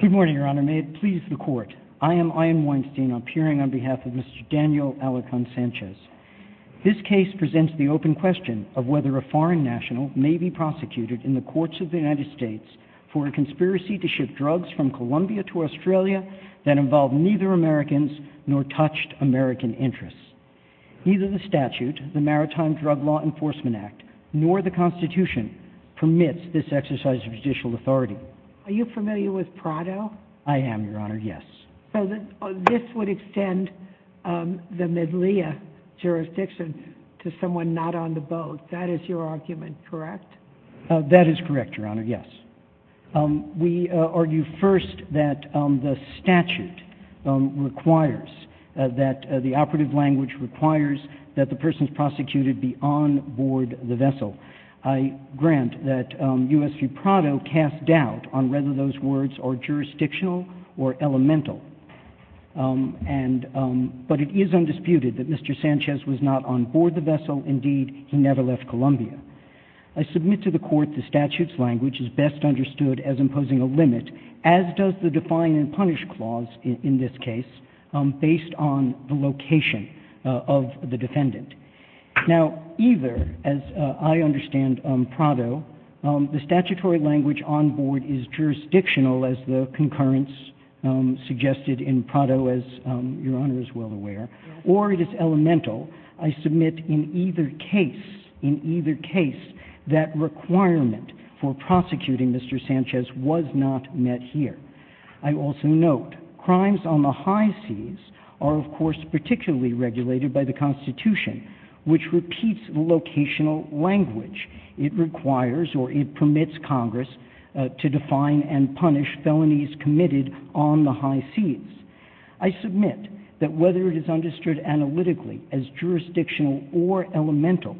Good morning, Your Honor. May it please the Court. I am Ian Weinstein, appearing on behalf of Mr. Daniel Alarcon Sanchez. This case presents the open question of whether a foreign national may be prosecuted in the courts of the United States for a conspiracy to ship drugs from Colombia to Australia that involved neither Americans nor touched American interests. Neither the statute, the Maritime Drug Law Enforcement Act, nor the Constitution permits this exercise of judicial authority. Are you familiar with Prado? I am, Your Honor, yes. So this would extend the medleya jurisdiction to someone not on the boat. That is your argument, correct? That is correct, Your Honor, yes. We argue first that the statute requires, that the operative language requires that the person prosecuted be on board the vessel. I grant that U.S. v. Prado casts doubt on whether those words are jurisdictional or elemental. But it is undisputed that Mr. Sanchez was not on board the vessel. Indeed, he never left Colombia. I submit to the Court the statute's language is best understood as imposing a limit, as does the Define and Punish Clause in this case, based on the location of the vessel. I do not understand Prado. The statutory language on board is jurisdictional, as the concurrence suggested in Prado, as Your Honor is well aware, or it is elemental. I submit in either case, in either case, that requirement for prosecuting Mr. Sanchez was not met here. I also note crimes on the high seas are, of course, particularly regulated by the Constitution, which repeats the locational language. It requires or it permits Congress to define and punish felonies committed on the high seas. I submit that whether it is understood analytically as jurisdictional or elemental,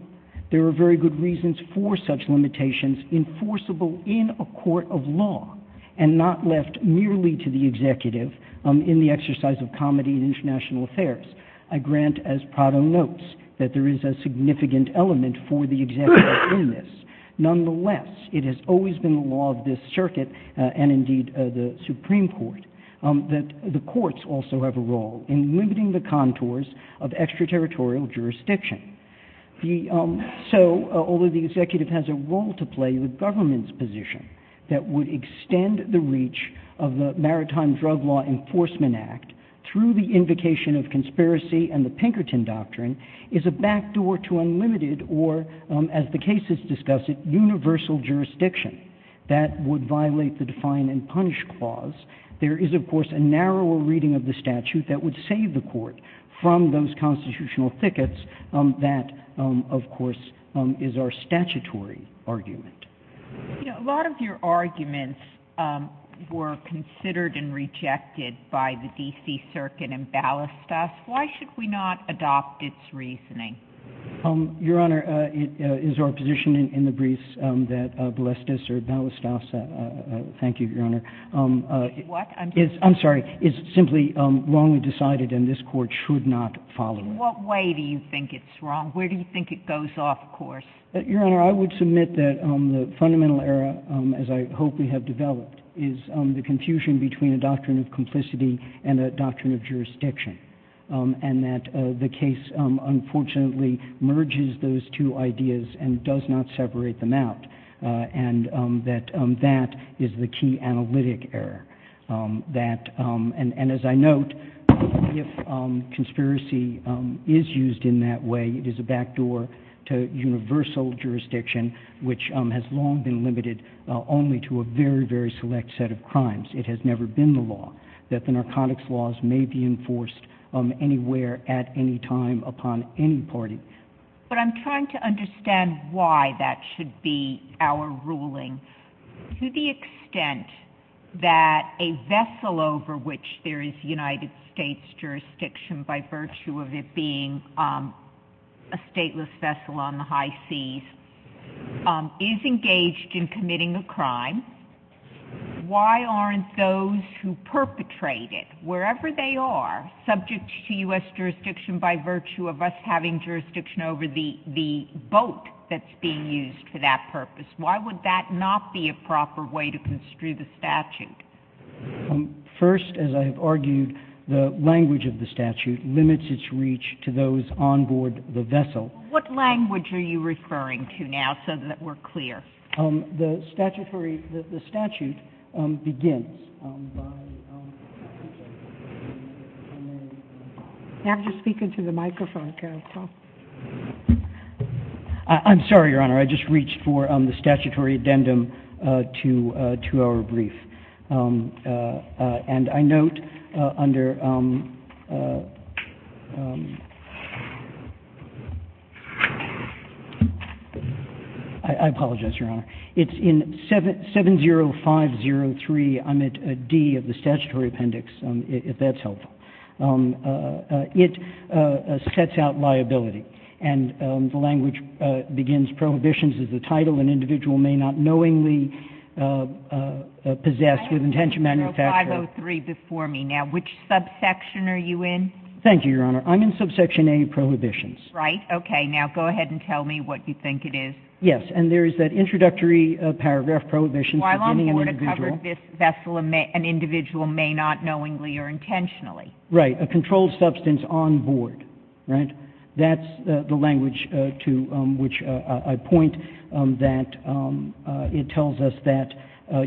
there are very good reasons for such limitations enforceable in a court of law and not left merely to the executive in the exercise of comity in international affairs. I grant, as Prado notes, that there is a significant element for the executive in this. Nonetheless, it has always been the law of this circuit and indeed the Supreme Court that the courts also have a role in limiting the contours of extraterritorial jurisdiction. So, although the executive has a role to play in the government's reach of the Maritime Drug Law Enforcement Act through the invocation of conspiracy and the Pinkerton Doctrine, is a backdoor to unlimited or, as the cases discuss it, universal jurisdiction that would violate the define and punish clause. There is, of course, a narrower reading of the statute that would save the court from those constitutional thickets that, of course, is our statutory argument. A lot of your arguments were considered and rejected by the D.C. Circuit in Ballestas. Why should we not adopt its reasoning? Your Honor, it is our position in the briefs that Ballestas or Ballestas, thank you, Your Honor, is simply wrongly decided and this court should not follow it. In what way do you think it's wrong? Where do you think it goes off course? Your Honor, I would submit that the fundamental error, as I hope we have developed, is the confusion between a doctrine of complicity and a doctrine of jurisdiction and that the case, unfortunately, merges those two ideas and does not separate them out and that is the key analytic error. And as I note, if conspiracy is used in that way, it is a backdoor to universal jurisdiction, which has long been limited only to a very, very select set of crimes. It has never been the law that the narcotics laws may be enforced anywhere, at any time, upon any party. But I'm trying to understand why that should be our ruling. To the extent that a vessel over which there is United States jurisdiction by virtue of it being a stateless vessel on the high seas is engaged in committing a crime, why aren't those who perpetrate it, wherever they are, subject to U.S. jurisdiction by virtue of us having jurisdiction over the boat that's being used for that purpose, why would that not be a proper way to construe the statute? First, as I have argued, the language of the statute limits its reach to those on board the vessel. What language are you referring to now so that we're clear? The statute begins by... You have to speak into the microphone, Carol. I'm sorry, Your Honor. I just reached for the statutory addendum to our brief. And I note under... I apologize, Your Honor. It's in 70503, I'm at D of the statutory appendix, if that's helpful. It sets out liability. And the language begins, prohibitions of the title, an individual may not knowingly possess with intention to manufacture... I have 70503 before me now. Which subsection are you in? Thank you, Your Honor. I'm in subsection A, prohibitions. Right, okay. Now go ahead and tell me what you think it is. Yes, and there is that introductory paragraph, prohibitions of any individual... Why long have you covered this vessel, an individual may not knowingly or intentionally? Right, a controlled substance on board, right? That's the language to which I point, that it tells us that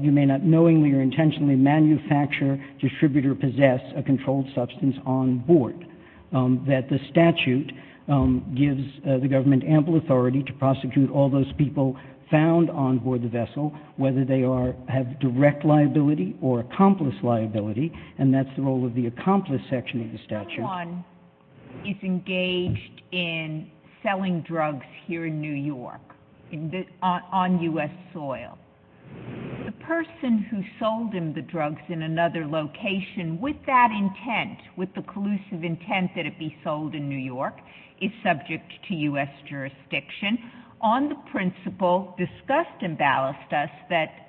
you may not knowingly or intentionally manufacture, distribute, or export, that the statute gives the government ample authority to prosecute all those people found on board the vessel, whether they have direct liability or accomplice liability, and that's the role of the accomplice section of the statute. Someone is engaged in selling drugs here in New York, on U.S. soil. The person who sold him the drugs in another location with that intent, with the collusive intent that it be sold in New York, is subject to U.S. jurisdiction. On the principle discussed in Ballestas that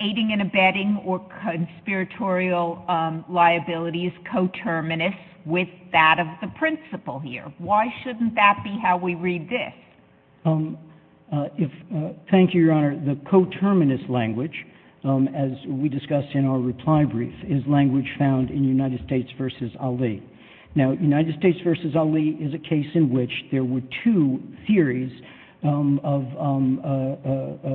aiding and abetting or conspiratorial liability is coterminous with that of the principle here. Why shouldn't that be how we read this? Thank you, Your Honor. The coterminous language, as we discussed in our reply brief, is language found in United States v. Ali. Now, United States v. Ali is a case in which there were two theories of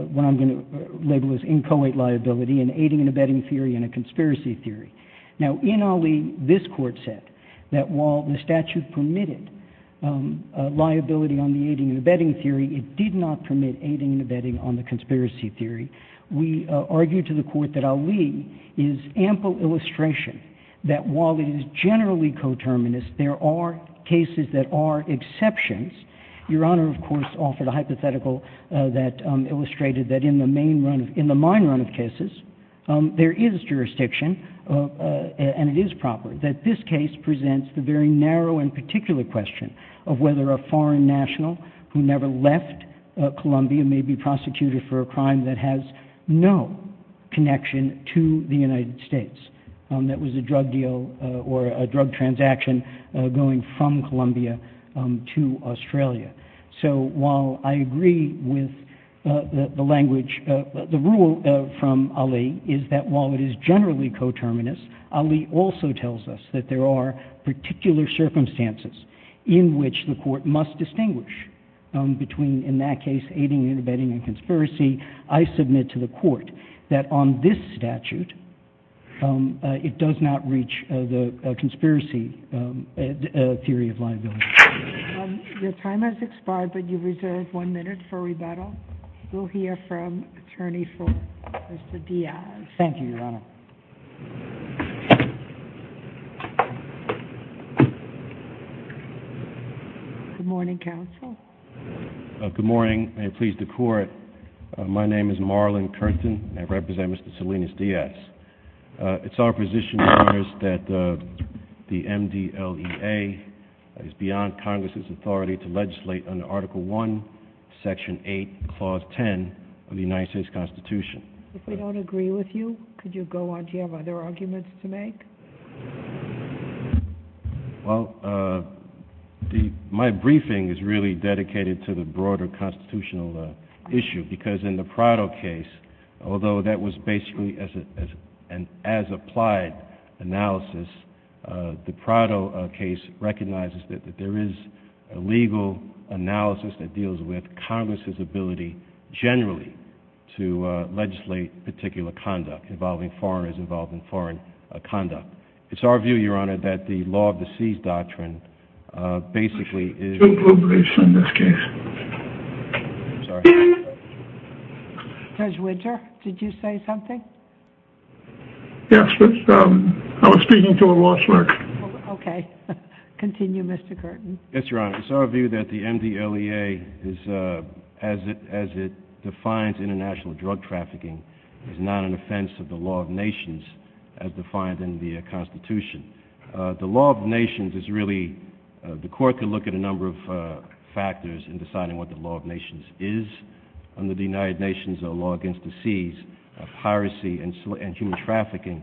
what I'm going to label as inchoate liability, an aiding and abetting theory and a conspiracy theory. Now, in Ali, this court said that while the statute permitted liability on the aiding and abetting theory, it did not permit aiding and abetting on the conspiracy theory. We argued to the court that Ali is ample illustration that while it is generally coterminous, there are cases that are exceptions. Your Honor, of course, offered a hypothetical that illustrated that in the main run of, in the minor run of cases, there is jurisdiction, and it is proper, that this case presents the very narrow and particular question of whether a foreign national who never left Colombia may be prosecuted for a crime that has no connection to the United States, that was a drug deal or a drug transaction going from Colombia to Australia. So while I agree with the language, the rule from Ali is that while it is generally coterminous, Ali also tells us that there are particular circumstances in which the court must distinguish between, in that case, aiding and abetting and conspiracy, I submit to the court that on this statute, it does not reach the conspiracy theory of liability. Your time has expired, but you reserve one minute for rebuttal. We'll hear from attorney for Mr. Diaz. Thank you, Your Honor. Good morning, counsel. Good morning. May it please the court, my name is Marlon Curtin, and I represent Mr. Salinas Diaz. It's our position, Your Honor, that the MDLEA is beyond Congress' authority to legislate under Article I, Section 8, Clause 10 of the United States Constitution. If we don't agree with you, could you go on? Do you have other arguments to make? Well, my briefing is really dedicated to the broader constitutional issue, because in the Prado case, although that was basically an as-applied analysis, the Prado case recognizes that there is a legal analysis that deals with Congress' ability, generally, to legislate particular conduct involving foreigners involved in foreign conduct. It's our view, Your Honor, that the Law of the Seas Doctrine basically is... Two pro briefs in this case. I'm sorry? Judge Winter, did you say something? Yes, but I was speaking to a lost mark. Okay. Continue, Mr. Curtin. Yes, Your Honor. It's our view that the MDLEA, as it defines international drug trafficking, is not an offense of the law of nations as defined in the Constitution. The law of nations is really... The court can look at a number of factors in deciding what the law of nations is. Under the United Nations Law Against the Seas, piracy and human trafficking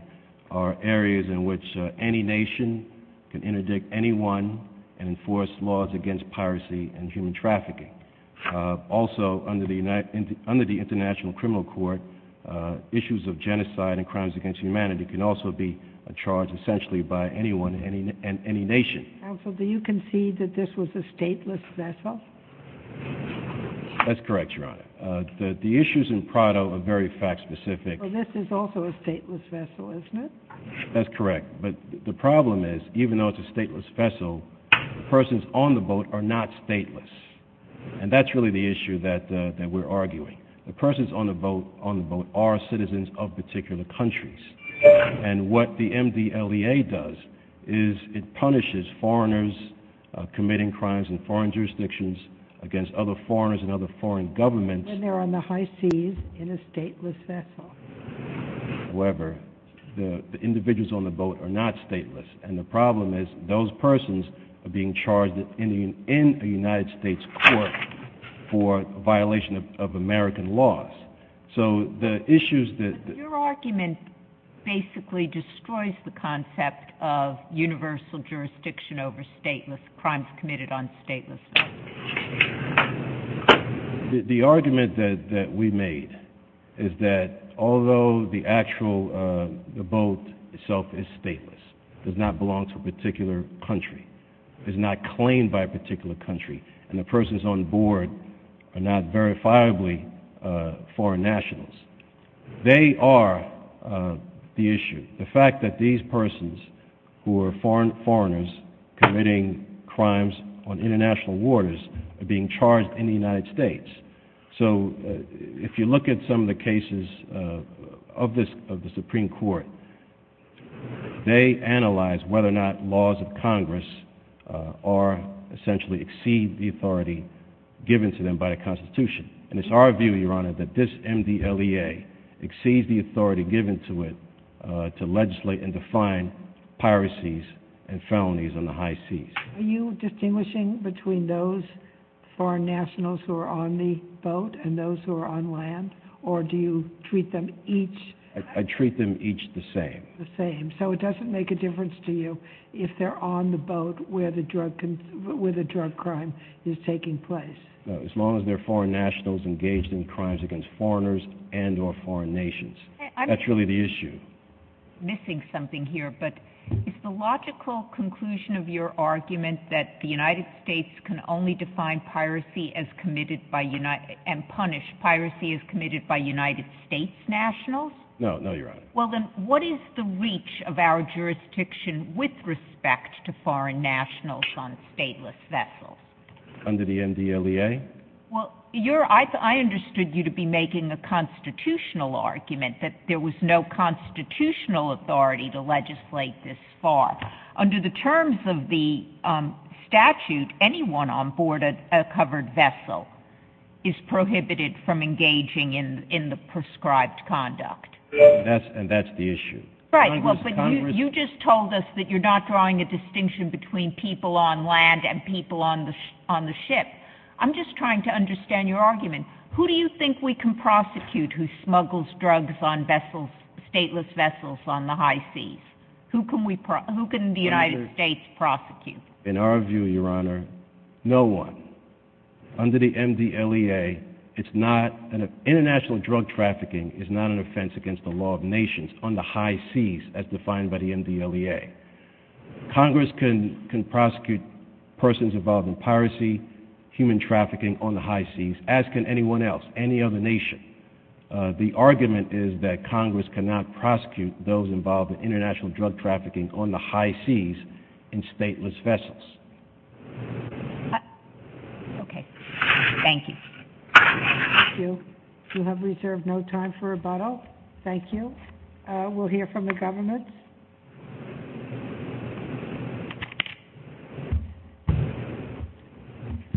are areas in which any nation can interdict anyone and enforce laws against piracy and human trafficking. Also, under the International Criminal Court, issues of genocide and crimes against humanity can also be charged, essentially, by anyone and any nation. Counsel, do you concede that this was a stateless vessel? That's correct, Your Honor. The issues in Prado are very fact-specific. Well, this is also a stateless vessel, isn't it? That's correct. But the problem is, even though it's a stateless vessel, the persons on the boat are not stateless. And that's really the issue that we're arguing. The persons on the boat are citizens of particular countries. And what the MDLEA does is it punishes foreigners committing crimes in foreign jurisdictions against other foreigners and other foreign governments. And they're on the high seas in a stateless vessel. However, the individuals on the boat are not stateless. And the problem is, those persons are being charged in a United States court for violation of American laws. So the issues that... But your argument basically destroys the concept of universal jurisdiction over stateless crimes committed on stateless vessels. The argument that we made is that although the actual boat itself is stateless, does not belong to a particular country, is not claimed by a particular country, and the persons on board are not verifiably foreign nationals, they are the issue. The fact that these persons who are foreigners committing crimes on international waters are being charged in the United States. So if you look at some of the cases of the Supreme Court, they analyze whether or not laws of Congress essentially exceed the authority given to them by the Constitution. And it's our view, Your Honor, that this MDLEA exceeds the authority given to it to legislate and prosecute piracies and felonies on the high seas. Are you distinguishing between those foreign nationals who are on the boat and those who are on land? Or do you treat them each... I treat them each the same. The same. So it doesn't make a difference to you if they're on the boat where the drug crime is taking place. No, as long as they're foreign nationals engaged in crimes against foreigners and or foreign nations. That's really the issue. I'm missing something here, but is the logical conclusion of your argument that the United States can only define piracy as committed by United... and punish piracy as committed by United States nationals? No, no, Your Honor. Well, then what is the reach of our jurisdiction with respect to foreign nationals on stateless vessels? Under the MDLEA? Well, I understood you to be making a constitutional argument that there was no constitutional authority to legislate this far. Under the terms of the statute, anyone on board a covered vessel is prohibited from engaging in the prescribed conduct. And that's the issue. Right, but you just told us that you're not drawing a distinction between people on land and people on the ship. I'm just trying to understand your argument. Who do you think we can prosecute who smuggles drugs on vessels, stateless vessels on the high seas? Who can the United States prosecute? In our view, Your Honor, no one. Under the MDLEA, international drug trafficking is not an offense against the law of nations on the high seas as defined by the MDLEA. Congress can prosecute persons involved in piracy, human trafficking on the high seas, as can anyone else, any other nation. The argument is that Congress cannot prosecute those involved in international drug trafficking on the high seas in stateless vessels. Okay. Thank you. Thank you. You have reserved no time for rebuttal. Thank you. We'll hear from the government.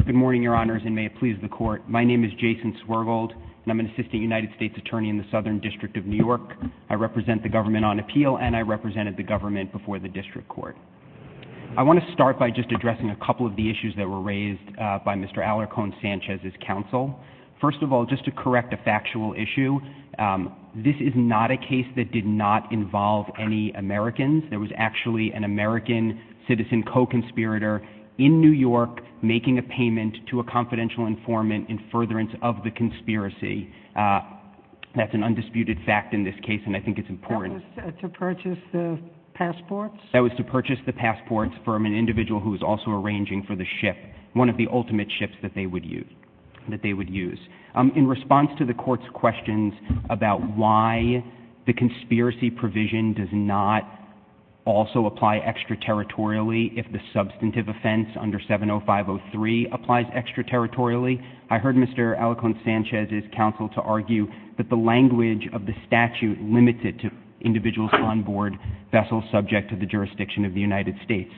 Good morning, Your Honors, and may it please the court. My name is Jason Swergold, and I'm an assistant United States attorney in the Southern District of New York. I represent the government on appeal, and I represented the government before the district court. I want to start by just addressing a couple of the issues that were raised by Mr. Alarcon Sanchez's counsel. First of all, just to correct a factual issue, this is not a case that did not involve any Americans. There was actually an American citizen co-conspirator in New York making a payment to a confidential informant in furtherance of the conspiracy. That's an undisputed fact in this case, and I think it's important. That was to purchase the passports? That was to purchase the passports from an individual who was also arranging for the ship, one of the ultimate ships that they would use. In response to the court's questions about why the conspiracy provision does not also apply extraterritorially if the substantive offense under 70503 applies extraterritorially, I heard Mr. Alarcon Sanchez's counsel to argue that the language of the statute limits it to individuals on board vessels subject to the jurisdiction of the United States.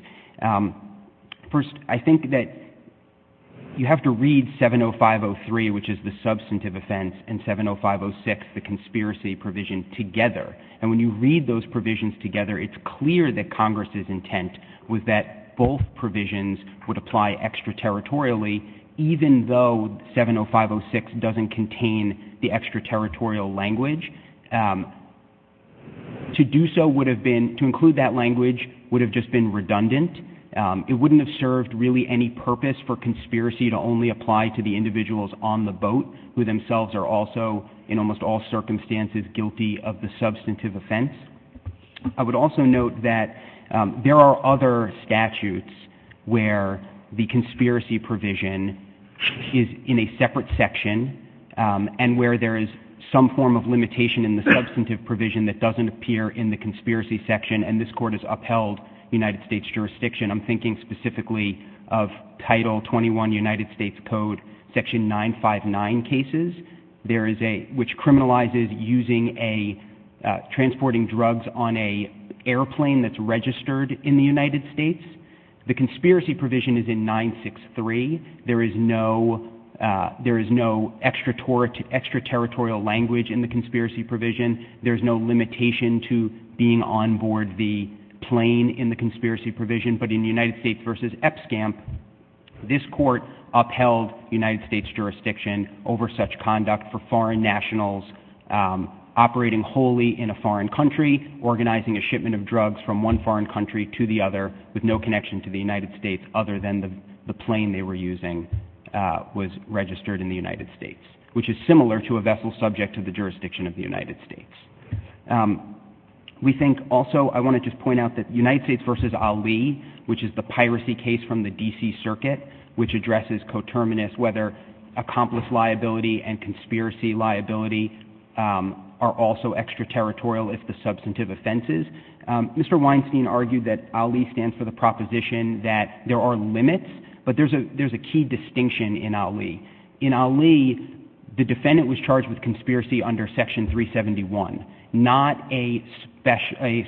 First, I think that you have to read 70503, which is the substantive offense, and 70506, the conspiracy provision, together. And when you read those provisions together, it's clear that Congress's intent was that both provisions would apply extraterritorially even though 70506 doesn't contain the extraterritorial language. To do so would have been, to include that language would have just been redundant. It wouldn't have served really any purpose for conspiracy to only apply to the individuals on the boat who themselves are also in almost all circumstances guilty of the substantive offense. I would also note that there are other statutes where the conspiracy provision is in a separate section, and where there is some form of limitation in the substantive provision that doesn't appear in the conspiracy section, and this court has upheld United States jurisdiction. I'm thinking specifically of Title 21 United States Code Section 959 cases, which criminalizes using a transporting drugs on a airplane that's registered in the United States. The conspiracy provision is in 963. There is no extraterritorial language in the conspiracy provision. There is no limitation to being on board the plane in the conspiracy provision, but in United States v. EPSCAMP, this court upheld United States jurisdiction over such conduct for foreign nationals operating wholly in a foreign country, organizing a shipment of drugs from one foreign country to the other with no connection to the United States other than the plane they were using was registered in the United States, which is similar to a vessel subject to the jurisdiction of the United States. We think also I want to just point out that United States v. Ali, which is the piracy case from the D.C. Circuit, which addresses coterminous whether accomplice liability and conspiracy liability are also extraterritorial if the substantive offense is. Mr. Weinstein argued that Ali stands for the proposition that there are limits, but there's a key distinction in Ali. In Ali, the defendant was charged with conspiracy under Section 371, not a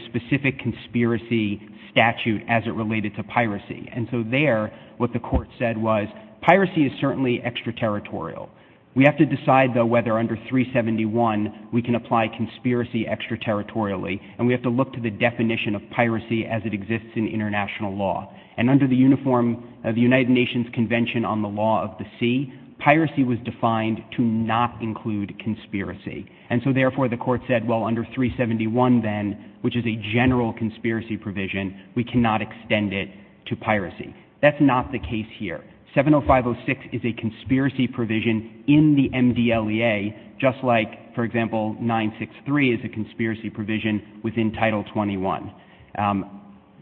specific conspiracy statute as it related to piracy. And so there, what the court said was, piracy is certainly extraterritorial. We have to decide, though, whether under 371 we can apply conspiracy extraterritorially, and we have to look to the definition of piracy as it exists in international law. And under the uniform of the United Nations Convention on the Law of the Sea, piracy was defined to not include conspiracy. And so, therefore, the court said, well, under 371 then, which is a general conspiracy provision, we cannot extend it to piracy. That's not the case here. 70506 is a conspiracy provision in the MDLEA, just like, for example, 963 is a conspiracy provision within Title 21.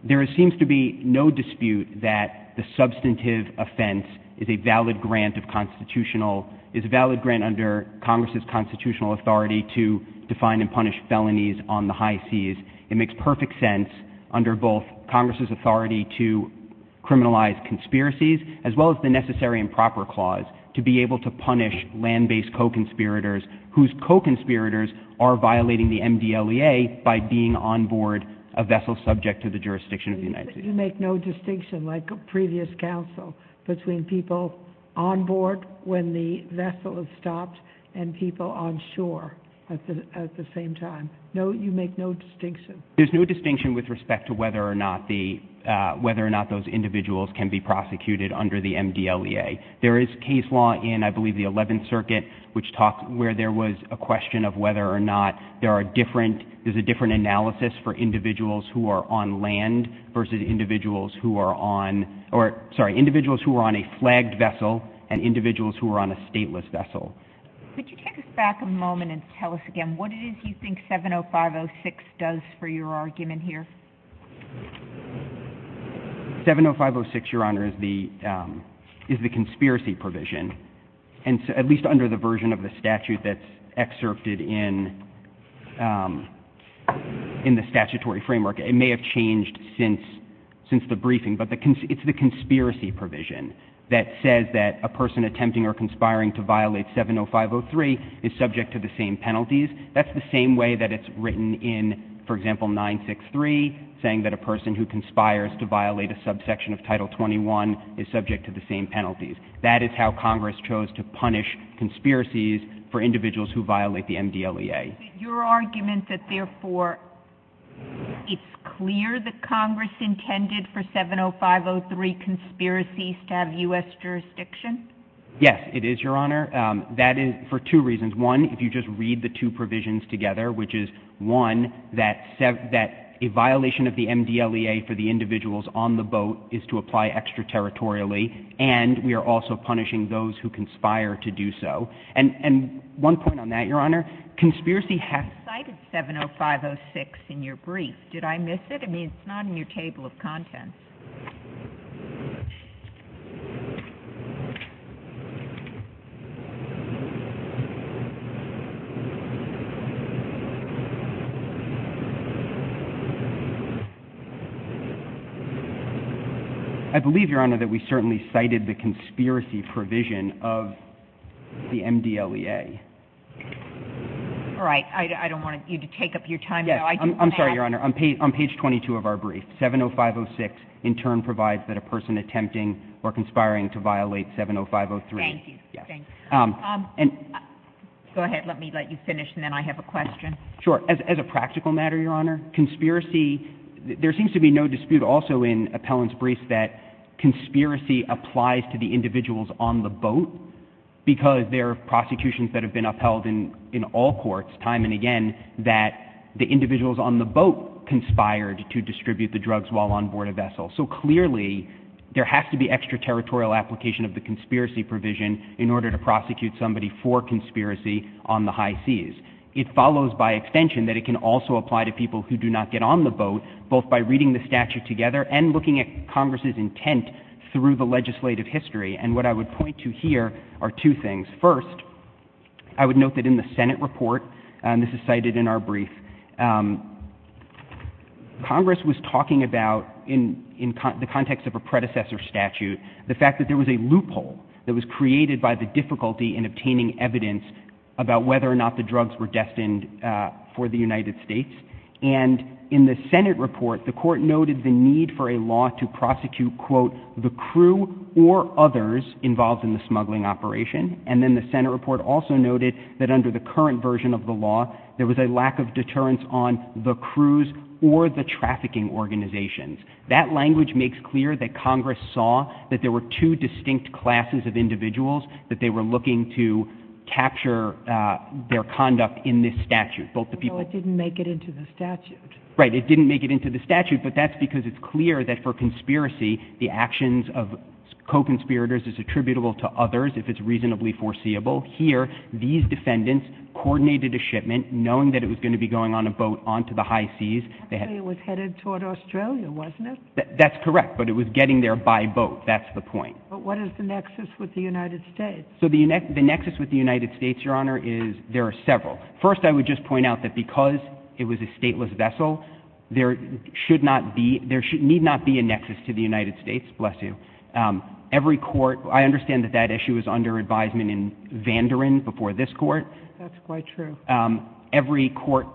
There seems to be no dispute that the substantive offense is a valid grant of constitutional — is a valid grant under Congress's constitutional authority to define and punish felonies on the high seas. It makes perfect sense under both Congress's authority to criminalize conspiracies, as well as the Necessary and Proper Clause, to be able to punish land-based co-conspirators whose co-conspirators are violating the MDLEA by being on board a vessel subject to the jurisdiction of the United States. You make no distinction, like a previous counsel, between people on board when the vessel is stopped and people on shore at the same time. No, you make no distinction. There's no distinction with respect to whether or not the — whether or not those individuals can be prosecuted under the MDLEA. There is case law in, I believe, the Eleventh Circuit, which talks — where there was a question of whether or not there are different — there's a different analysis for individuals who are on land versus individuals who are on — or, sorry, individuals who are on a flagged vessel and individuals who are on a stateless vessel. Could you take us back a moment and tell us again what it is you think 70506 does for your argument here? 70506, Your Honor, is the conspiracy provision, at least under the version of the statute that's excerpted in the statutory framework. It may have changed since the briefing, but it's the conspiracy provision that says that a person attempting or conspiring to violate 70503 is subject to the same penalties. That's the same way that it's written in, for example, 963, saying that a person who conspires to violate a subsection of Title 21 is subject to the same penalties. That is how Congress chose to punish conspiracies for individuals who violate the MDLEA. But your argument that, therefore, it's clear that Congress intended for 70503 conspiracies to have U.S. jurisdiction? Yes, it is, Your Honor. That is for two reasons. One, if you just read the two provisions together, which is, one, that a violation of the MDLEA for the individuals on the boat is to apply extraterritorially, and we are also punishing those who conspire to do so. And one point on that, Your Honor, conspiracy has... You cited 70506 in your brief. Did I miss it? I mean, it's not in your table of contents. I believe, Your Honor, that we certainly cited the conspiracy provision of the MDLEA. All right. I don't want you to take up your time, though. I just... I'm sorry, Your Honor. On page 22 of our brief, 70506 in turn provides that a person attempting or conspiring to violate 70503... Thank you. Go ahead. Let me let you finish, and then I have a question. Sure. As a practical matter, Your Honor, conspiracy... There seems to be no dispute also in Appellant's brief that conspiracy applies to the individuals on the boat because there are prosecutions that have been upheld in all courts, time and again, that the individuals on the boat conspired to distribute the drugs while on board a vessel. So clearly, there has to be extraterritorial application of the conspiracy provision in order to prosecute somebody for conspiracy on the high seas. It follows by extension that it can also apply to people who do not get on the boat, both by reading the statute together and looking at Congress's intent through the legislative history. And what I would point to here are two things. First, I would note that in the Senate report, and this is cited in our brief, Congress was talking about, in the context of a predecessor statute, the fact that there was a loophole that was created by the difficulty in obtaining evidence about whether or not the drugs were destined for the United States. And in the Senate report, the Court noted the need for a law to prosecute, quote, the crew or others involved in the smuggling operation. And then the Senate report also noted that under the current version of the law, there were two distinct classes of individuals that they were looking to capture their conduct in this statute. So it didn't make it into the statute. Right. It didn't make it into the statute. But that's because it's clear that for conspiracy, the actions of co-conspirators is attributable to others, if it's reasonably foreseeable. Here, these defendants coordinated a shipment, knowing that it was going to be going on a boat onto the high seas. So it was headed toward Australia, wasn't it? That's correct. But it was getting there by boat. That's the point. But what is the nexus with the United States? So the nexus with the United States, Your Honor, is, there are several. First, I would just point out that because it was a stateless vessel, there should not be, there need not be a nexus to the United States. Bless you. Every court, I understand that that issue was under advisement in Vanderen before this court. That's quite true. Every court,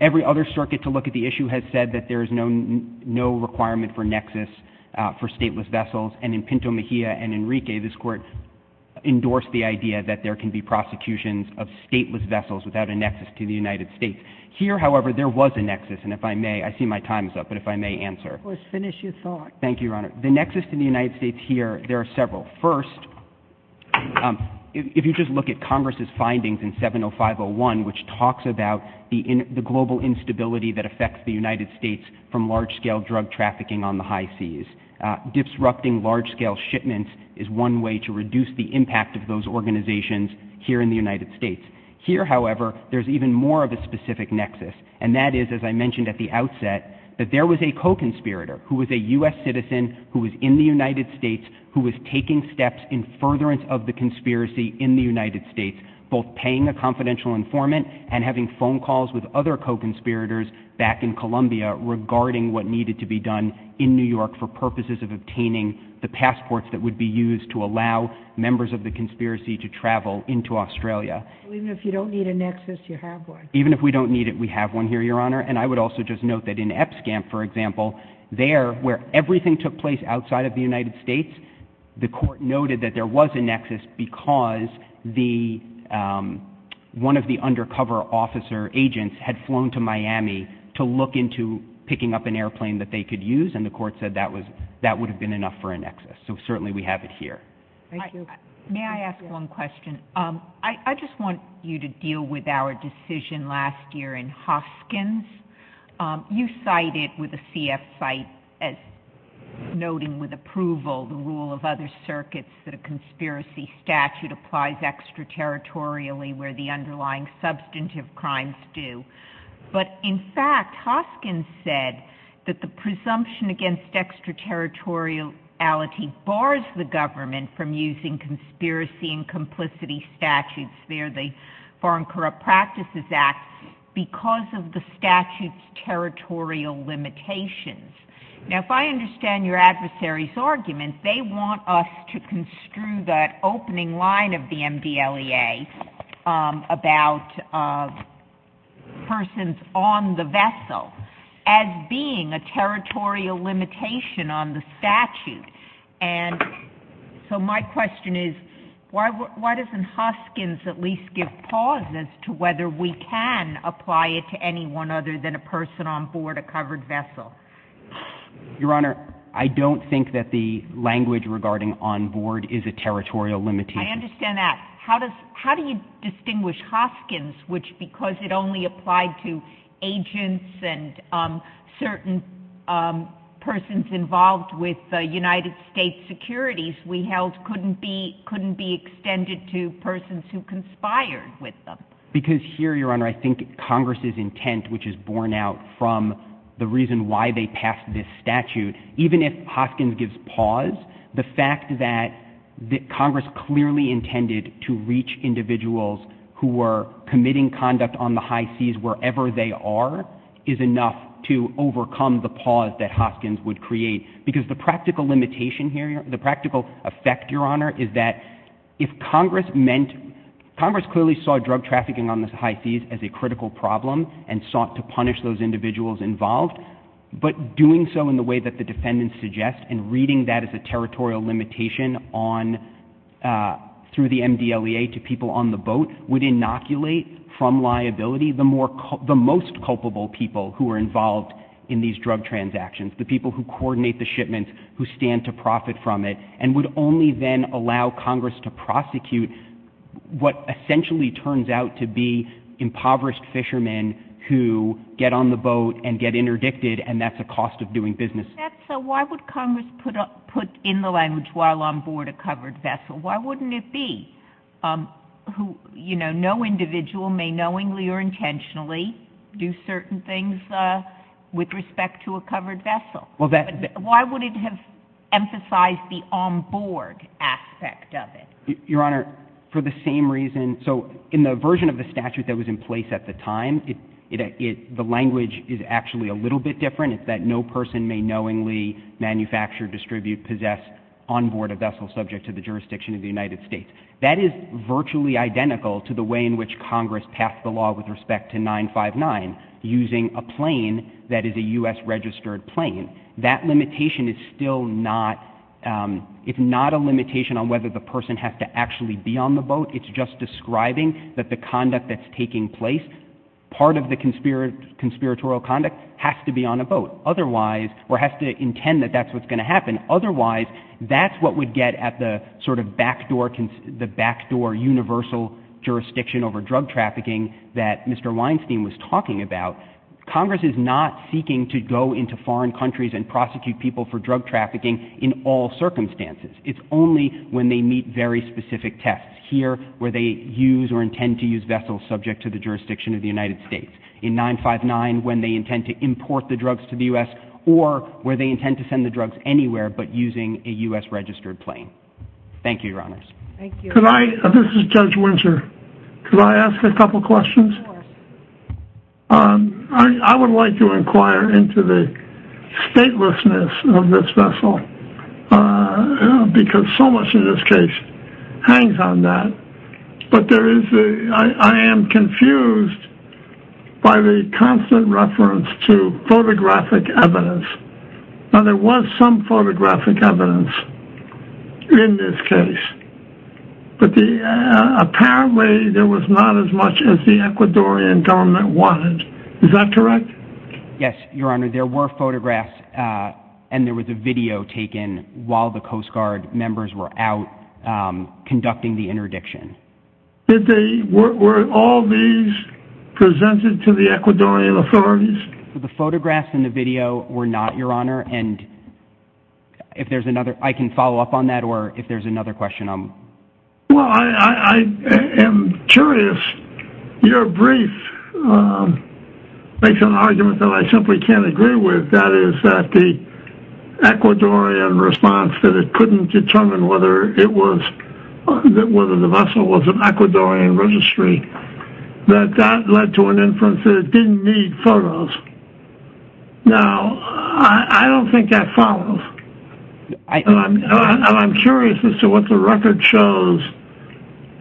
every other circuit to look at the issue has said that there is no requirement for nexus for stateless vessels. And in Pinto Mejia and Enrique, this court endorsed the idea that there can be prosecutions of stateless vessels without a nexus to the United States. Here, however, there was a nexus. And if I may, I see my time is up, but if I may answer. Let's finish your thought. Thank you, Your Honor. The nexus to the United States here, there are several. First, if you just look at Congress's findings in 70501, which talks about the global instability that affects the United States from large-scale drug trafficking on the high seas, disrupting large-scale shipments is one way to reduce the impact of those organizations here in the United States. Here, however, there's even more of a specific nexus. And that is, as I mentioned at the outset, that there was a co-conspirator who was a furtherance of the conspiracy in the United States, both paying a confidential informant and having phone calls with other co-conspirators back in Columbia regarding what needed to be done in New York for purposes of obtaining the passports that would be used to allow members of the conspiracy to travel into Australia. Even if you don't need a nexus, you have one. Even if we don't need it, we have one here, Your Honor. And I would also just note that in EPSCAMP, for example, there, where everything took place outside of the United States, the court noted that there was a nexus because one of the undercover officer agents had flown to Miami to look into picking up an airplane that they could use, and the court said that would have been enough for a nexus. So certainly we have it here. Thank you. May I ask one question? I just want you to deal with our decision last year in Hoskins. You cited with a CF site as noting with approval the rule of other circuits that a conspiracy statute applies extraterritorially where the underlying substantive crimes do. But in fact, Hoskins said that the presumption against extraterritoriality bars the government from using conspiracy and complicity statutes. The Foreign Corrupt Practices Act, because of the statute's territorial limitations. Now, if I understand your adversary's argument, they want us to construe that opening line of the MDLEA about persons on the vessel as being a territorial limitation on the statute. So my question is, why doesn't Hoskins at least give pause as to whether we can apply it to anyone other than a person on board a covered vessel? Your Honor, I don't think that the language regarding on board is a territorial limitation. I understand that. How do you distinguish Hoskins, which because it only applied to agents and certain persons involved with the United States securities, we held couldn't be extended to persons who conspired with them? Because here, Your Honor, I think Congress's intent, which is borne out from the reason why they passed this statute, even if Hoskins gives pause, the fact that Congress clearly intended to reach individuals who were committing conduct on the high seas wherever they are is enough to overcome the pause that Hoskins would create. Because the practical limitation here, the practical effect, Your Honor, is that if Congress meant, Congress clearly saw drug trafficking on the high seas as a critical problem and sought to punish those individuals involved, but doing so in the way that the defendants suggest and reading that as a territorial limitation on, through the MDLEA to people on the boat would inoculate from liability the most culpable people who are involved in these drug transactions, the people who coordinate the shipments, who stand to profit from it, and would only then allow Congress to prosecute what essentially turns out to be impoverished fishermen who get on the boat and get interdicted, and that's a cost of doing business. So why would Congress put in the language while on board a covered vessel? Why wouldn't it be who, you know, no individual may knowingly or intentionally do certain things with respect to a covered vessel? Why would it have emphasized the on board aspect of it? Your Honor, for the same reason, so in the version of the statute that was in place at the time, the language is actually a little bit different. It's that no person may knowingly manufacture, distribute, possess on board a vessel subject to the jurisdiction of the United States. That is virtually identical to the way in which Congress passed the law with respect to 959, using a plane that is a U.S. registered plane. That limitation is still not, it's not a limitation on whether the person has to actually be on the boat. It's just describing that the conduct that's taking place, part of the conspiratorial conduct, has to be on a boat, otherwise, or has to intend that that's what's going to happen. And otherwise, that's what we'd get at the sort of backdoor, the backdoor universal jurisdiction over drug trafficking that Mr. Weinstein was talking about. Congress is not seeking to go into foreign countries and prosecute people for drug trafficking in all circumstances. It's only when they meet very specific tests. Here, where they use or intend to use vessels subject to the jurisdiction of the United States. In 959, when they intend to import the drugs to the U.S., or where they intend to send the drugs anywhere but using a U.S. registered plane. Thank you, Your Honors. This is Judge Winter. Could I ask a couple questions? I would like to inquire into the statelessness of this vessel, because so much in this case hangs on that. But there is, I am confused by the constant reference to photographic evidence. Now there was some photographic evidence in this case, but apparently there was not as much as the Ecuadorian government wanted. Is that correct? Yes, Your Honor. There were photographs and there was a video taken while the Coast Guard members were out conducting the interdiction. Did they, were all these presented to the Ecuadorian authorities? The photographs and the video were not, Your Honor. And if there's another, I can follow up on that, or if there's another question. Well, I am curious. Your brief makes an argument that I simply can't agree with. That is that the Ecuadorian response that it couldn't determine whether it was, whether the vessel was an Ecuadorian registry. That that led to an inference that it didn't need photos. Now, I don't think that follows. And I'm curious as to what the record shows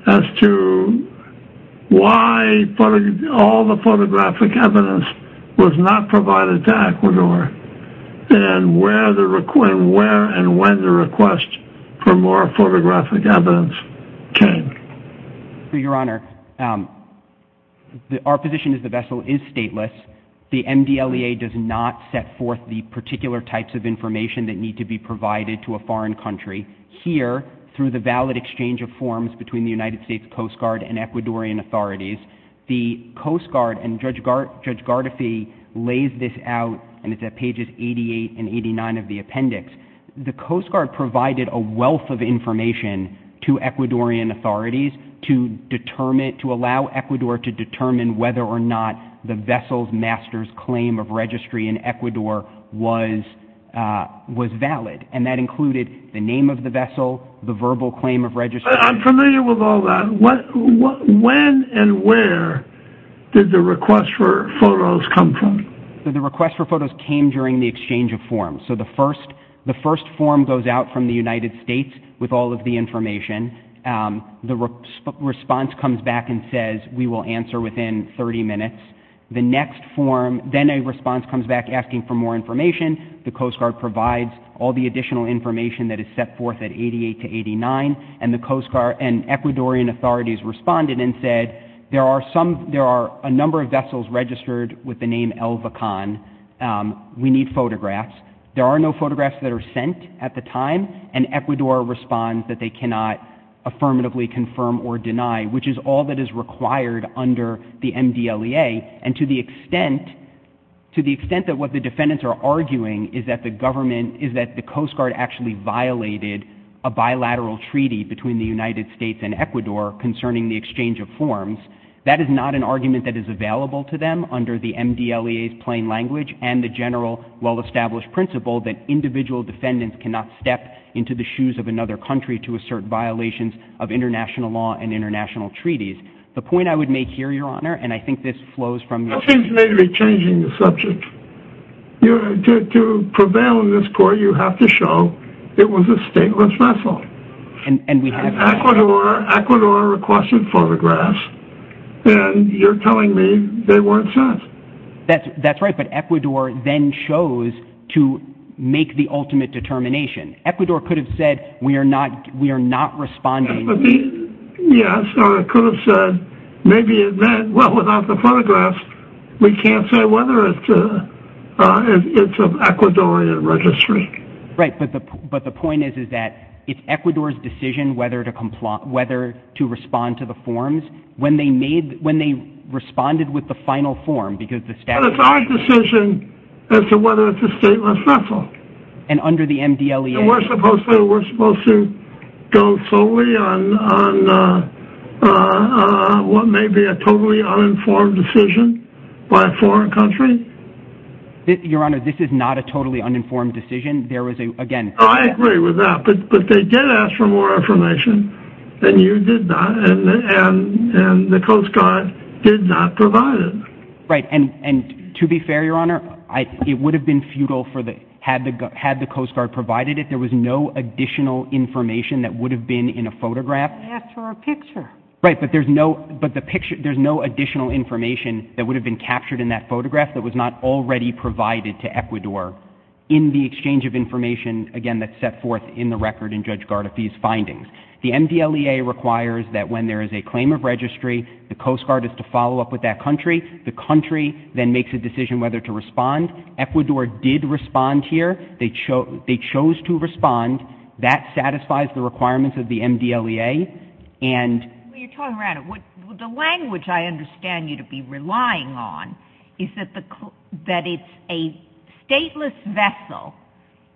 as to why all the photographic evidence was not provided to Ecuador, and where and when the request for more photographic evidence came. Your Honor, our position is the vessel is stateless. The MDLEA does not set forth the particular types of information that need to be provided to a foreign country. Here, through the valid exchange of forms between the United States Coast Guard and Ecuadorian authorities, the Coast Guard, and Judge Gardefi lays this out, and it's at pages 88 and 89 of the appendix. The Coast Guard provided a wealth of information to Ecuadorian authorities to determine, to allow Ecuador to determine whether or not the vessel's master's claim of registry in Ecuador was valid. And that included the name of the vessel, the verbal claim of registry. I'm familiar with all that. When and where did the request for photos come from? The request for photos came during the exchange of forms. So the first form goes out from the United States with all of the information. The response comes back and says, we will answer within 30 minutes. The next form, then a response comes back asking for more information. The Coast Guard provides all the additional information that is set forth at 88 to 89, and the Coast Guard and Ecuadorian authorities responded and said, there are a number of vessels registered with the name El Vacon. We need photographs. There are no photographs that are sent at the time, and Ecuador responds that they cannot affirmatively confirm or deny, which is all that is required under the MDLEA. And to the extent that what the defendants are arguing is that the government, is that the Coast Guard actually violated a bilateral treaty between the United States and Ecuador concerning the exchange of forms, that is not an argument that is available to them under the MDLEA's plain language and the general, well-established principle that individual defendants cannot step into the shoes of another country to assert violations of international law and international treaties. The point I would make here, Your Honor, and I think this flows from your... Nothing is majorly changing the subject. To prevail in this court, you have to show it was a stateless vessel. Ecuador requested photographs, and you're telling me they weren't sent. That's right, but Ecuador then chose to make the ultimate determination. Ecuador could have said, we are not responding. Yes, or it could have said, maybe it meant, well, without the photographs, we can't say whether it's of Ecuadorian registry. Right, but the point is that it's Ecuador's decision whether to respond to the forms, when they responded with the final form, because the statute... But it's our decision as to whether it's a stateless vessel. And under the MDLEA... And we're supposed to go solely on what may be a totally uninformed decision by a foreign country? Your Honor, this is not a totally uninformed decision. I agree with that, but they did ask for more information, and you did not, and the Coast Guard did not provide it. Right, and to be fair, Your Honor, it would have been futile had the Coast Guard provided it. There was no additional information that would have been in a photograph. They asked for a picture. Right, but there's no additional information that would have been captured in that photograph that was not already provided to Ecuador in the exchange of information, again, that's set forth in the record in Judge Gardafi's findings. The MDLEA requires that when there is a claim of registry, the Coast Guard is to follow up with that country. The country then makes a decision whether to respond. Ecuador did respond here. They chose to respond. That satisfies the requirements of the MDLEA, and... Well, you're talking around it. The language I understand you to be relying on is that it's a stateless vessel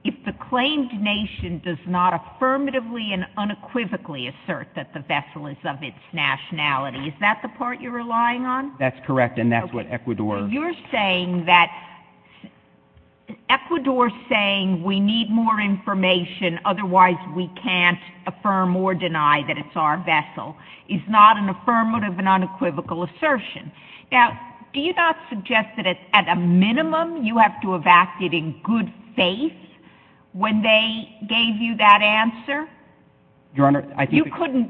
if the claimed nation does not affirmatively and unequivocally assert that the vessel is of its nationality. Is that the part you're relying on? That's correct, and that's what Ecuador... So you're saying that Ecuador's saying we need more information, otherwise we can't our vessel is not an affirmative and unequivocal assertion. Now, do you not suggest that at a minimum you have to have acted in good faith when they gave you that answer? Your Honor, I think...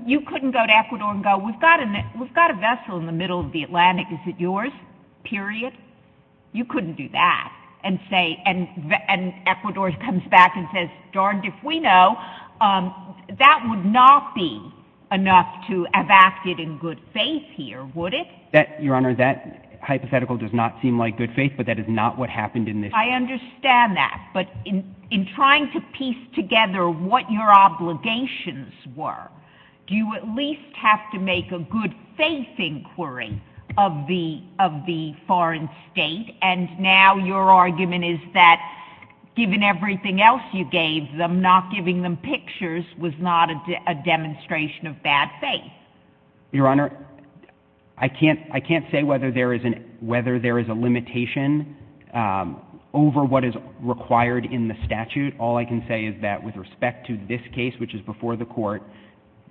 You couldn't go to Ecuador and go, we've got a vessel in the middle of the Atlantic. Is it yours? Period. You couldn't do that and say... And Ecuador comes back and says, darned if we know. That would not be enough to have acted in good faith here, would it? Your Honor, that hypothetical does not seem like good faith, but that is not what happened in this case. I understand that, but in trying to piece together what your obligations were, do you at least have to make a good faith inquiry of the foreign state? And now your argument is that given everything else you gave them, not giving them pictures was not a demonstration of bad faith. Your Honor, I can't say whether there is a limitation over what is required in the statute. All I can say is that with respect to this case, which is before the court,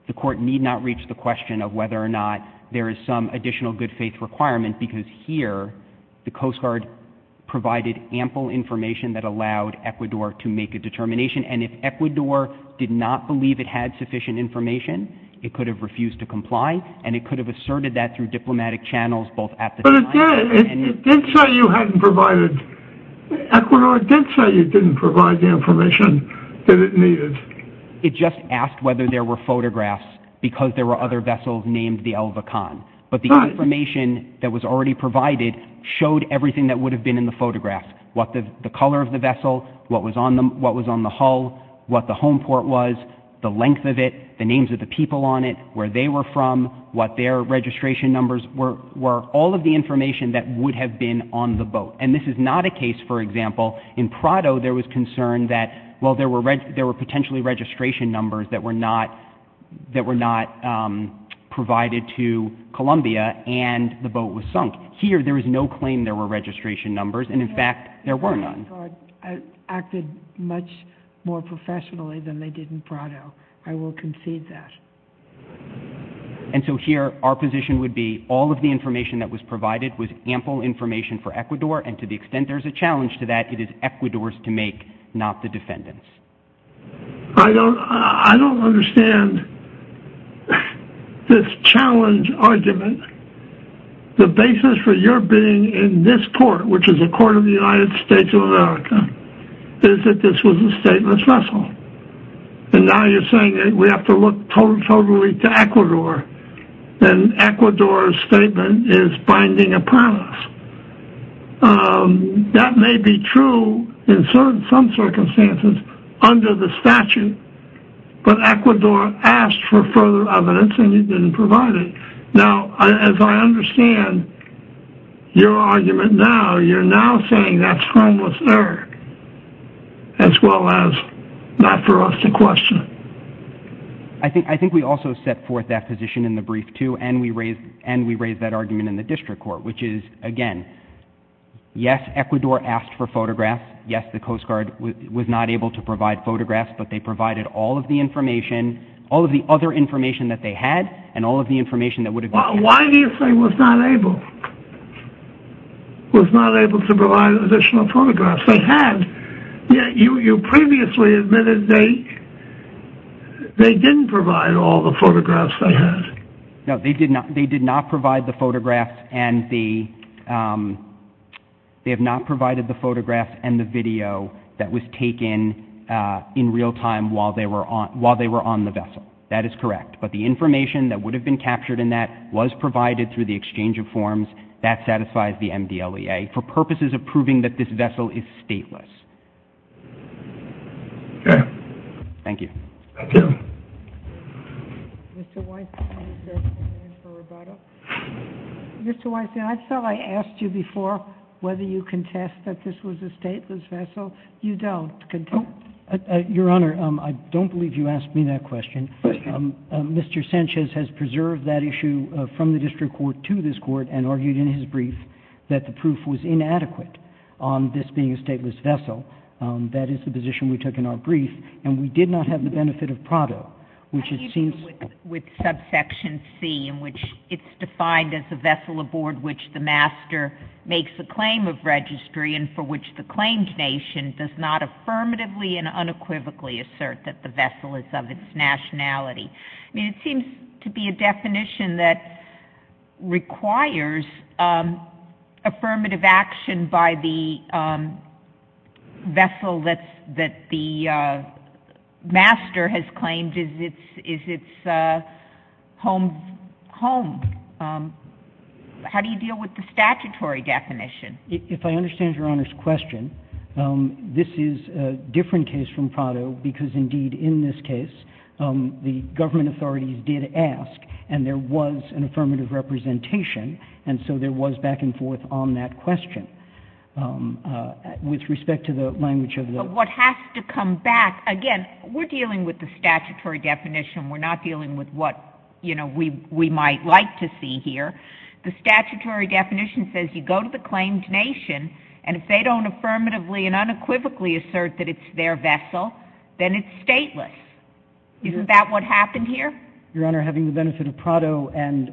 the court need not reach the question of whether or not there is some additional good faith requirement because here, the Coast Guard provided ample information that allowed Ecuador to make a determination and if Ecuador did not believe it had sufficient information, it could have refused to comply and it could have asserted that through diplomatic channels both at the time... But it did. It did say you hadn't provided... Ecuador did say you didn't provide the information that it needed. It just asked whether there were photographs because there were other vessels named the already provided showed everything that would have been in the photographs, what the color of the vessel, what was on the hull, what the home port was, the length of it, the names of the people on it, where they were from, what their registration numbers were, all of the information that would have been on the boat. And this is not a case, for example, in Prado there was concern that, well, there were potentially registration numbers that were not provided to Columbia and the boat was sunk. Here, there is no claim there were registration numbers and, in fact, there were none. The Coast Guard acted much more professionally than they did in Prado. I will concede that. And so here, our position would be all of the information that was provided was ample information for Ecuador and to the extent there is a challenge to that, it is Ecuador's to make, not the defendant's. I don't understand this challenge argument. The basis for your being in this court, which is a court of the United States of America, is that this was a stateless vessel. And now you're saying that we have to look totally to Ecuador and Ecuador's statement is binding a promise. That may be true in some circumstances under the statute, but Ecuador asked for further evidence and you didn't provide it. Now, as I understand your argument now, you're now saying that's harmless error, as well as not for us to question it. I think we also set forth that position in the brief, too, and we raised that argument in the district court, which is, again, yes, Ecuador asked for photographs. Yes, the Coast Guard was not able to provide photographs, but they provided all of the information, all of the other information that they had and all of the information that would have been- Why do you say was not able? Was not able to provide additional photographs? They had. You previously admitted they didn't provide all the photographs they had. No, they did not. They did not provide the photographs and the- they have not provided the photographs and the video that was taken in real time while they were on the vessel. That is correct. But the information that would have been captured in that was provided through the exchange of forms. That satisfies the MDLEA for purposes of proving that this vessel is stateless. Okay. Thank you. Thank you. Mr. Weinstein, I thought I asked you before whether you contest that this was a stateless vessel. You don't. Your Honor, I don't believe you asked me that question. Mr. Sanchez has preserved that issue from the district court to this court and argued in his brief that the proof was inadequate on this being a stateless vessel. That is the position we took in our brief, and we did not have the benefit of Prado, which it seems- With subsection C, in which it's defined as a vessel aboard which the master makes a claim of registry and for which the claimed nation does not affirmatively and unequivocally assert that the vessel is of its nationality. I mean, it seems to be a definition that requires affirmative action by the vessel that the master has claimed is its home. How do you deal with the statutory definition? If I understand Your Honor's question, this is a different case from Prado because, indeed, in this case, the government authorities did ask, and there was an affirmative representation, and so there was back and forth on that question. With respect to the language of the- But what has to come back, again, we're dealing with the statutory definition. We're not dealing with what we might like to see here. The statutory definition says you go to the claimed nation, and if they don't affirmatively and unequivocally assert that it's their vessel, then it's stateless. Isn't that what happened here? Your Honor, having the benefit of Prado and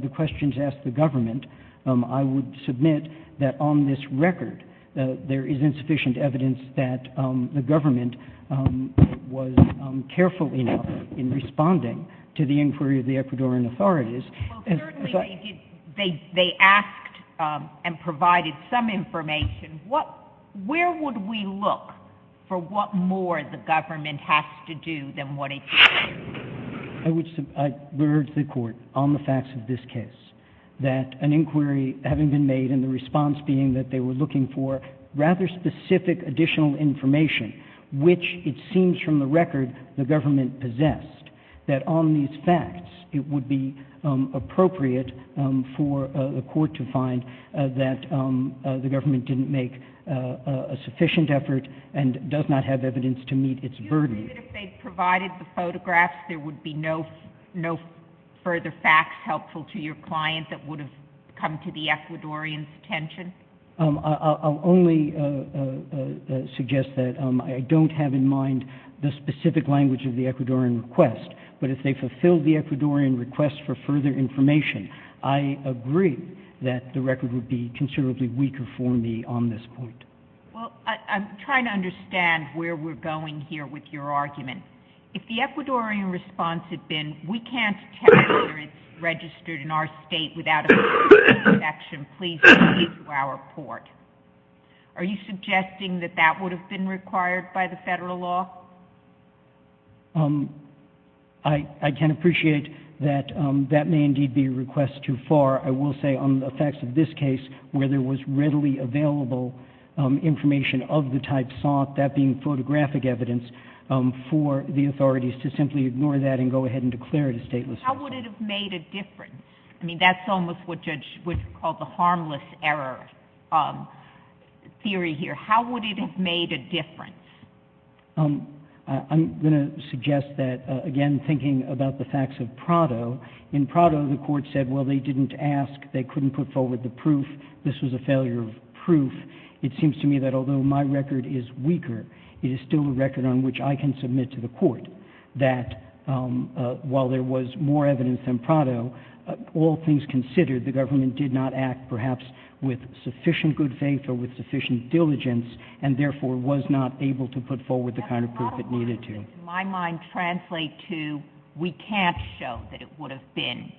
the questions asked the government, I would submit that on this record there is insufficient evidence that the government was careful enough in responding to the inquiry of the Ecuadorian authorities. Well, certainly they asked and provided some information. Where would we look for what more the government has to do than what it should do? I would urge the Court on the facts of this case that an inquiry having been made and the response being that they were looking for rather specific additional information, which it seems from the record the government possessed, that on these facts it would be appropriate for the Court to find that the government didn't make a sufficient effort and does not have evidence to meet its burden. Do you agree that if they provided the photographs there would be no further facts helpful to your client that would have come to the Ecuadorian's attention? I'll only suggest that I don't have in mind the specific language of the Ecuadorian request, but if they fulfilled the Ecuadorian request for further information, I agree that the record would be considerably weaker for me on this point. Well, I'm trying to understand where we're going here with your argument. If the Ecuadorian response had been, we can't tell whether it's registered in our state without it being taken into action, please take it to our court. Are you suggesting that that would have been required by the federal law? I can appreciate that that may indeed be a request too far. I will say on the facts of this case where there was readily available information of the type sought, that being photographic evidence, for the authorities to simply ignore that and go ahead and declare it a stateless request. How would it have made a difference? I mean, that's almost what Judge Wood called the harmless error theory here. How would it have made a difference? I'm going to suggest that, again, thinking about the facts of Prado, in Prado the court said, well, they didn't ask, they couldn't put forward the proof, this was a failure of proof. It seems to me that although my record is weaker, it is still a record on which I can all things considered, the government did not act perhaps with sufficient good faith or with sufficient diligence and therefore was not able to put forward the kind of proof it needed to. That's not a question that in my mind translates to, we can't show that it would have been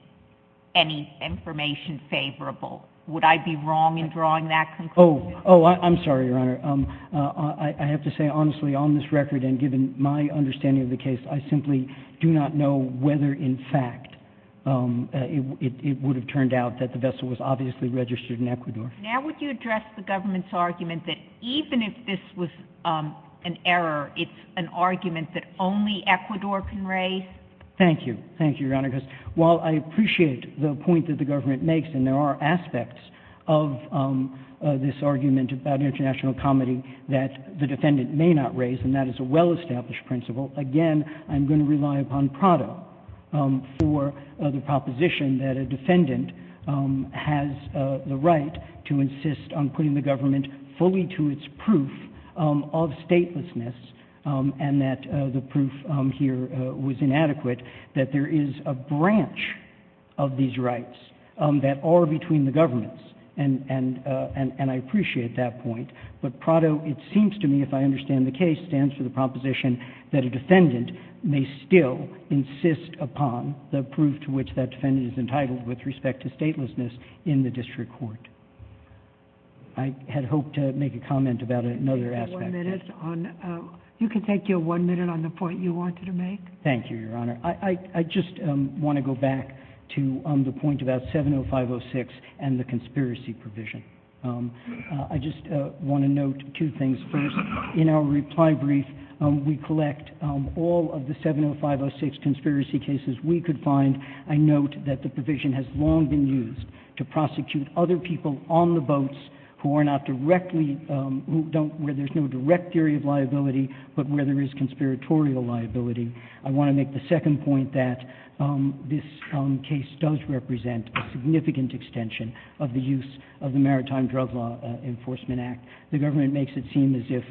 any information favorable. Would I be wrong in drawing that conclusion? Oh, I'm sorry, Your Honor. I have to say, honestly, on this record and given my understanding of the case, I simply do not know whether in fact it would have turned out that the vessel was obviously registered in Ecuador. Now would you address the government's argument that even if this was an error, it's an argument that only Ecuador can raise? Thank you. Thank you, Your Honor, because while I appreciate the point that the government makes, and there are aspects of this argument about international comedy that the defendant may not raise, and that is a well-established principle, again, I'm going to rely upon Prado for the proposition that a defendant has the right to insist on putting the government fully to its proof of statelessness and that the proof here was inadequate, that there is a branch of these rights that are between the governments, and I appreciate that point. But Prado, it seems to me, if I understand the case, stands for the proposition that a defendant may still insist upon the proof to which that defendant is entitled with respect to statelessness in the district court. I had hoped to make a comment about another aspect. You can take your one minute on the point you wanted to make. Thank you, Your Honor. I just want to go back to the point about 70506 and the conspiracy provision. I just want to note two things. First, in our reply brief, we collect all of the 70506 conspiracy cases we could find. I note that the provision has long been used to prosecute other people on the boats who are not directly, where there's no direct theory of liability, but where there is conspiratorial liability. I want to make the second point that this case does represent a significant extension of the use of the Maritime Drug Law Enforcement Act. The government makes it seem as if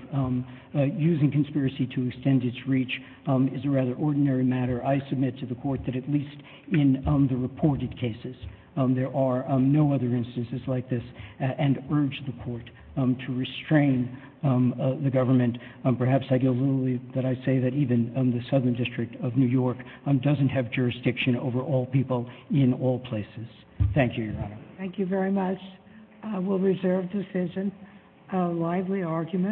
using conspiracy to extend its reach is a rather ordinary matter. I submit to the court that at least in the reported cases, there are no other instances like this, and urge the court to restrain the government. Perhaps I get a little that I say that even the Southern District of New York doesn't have jurisdiction over all people in all places. Thank you, Your Honor. Thank you very much. We'll reserve the decision. A lively argument.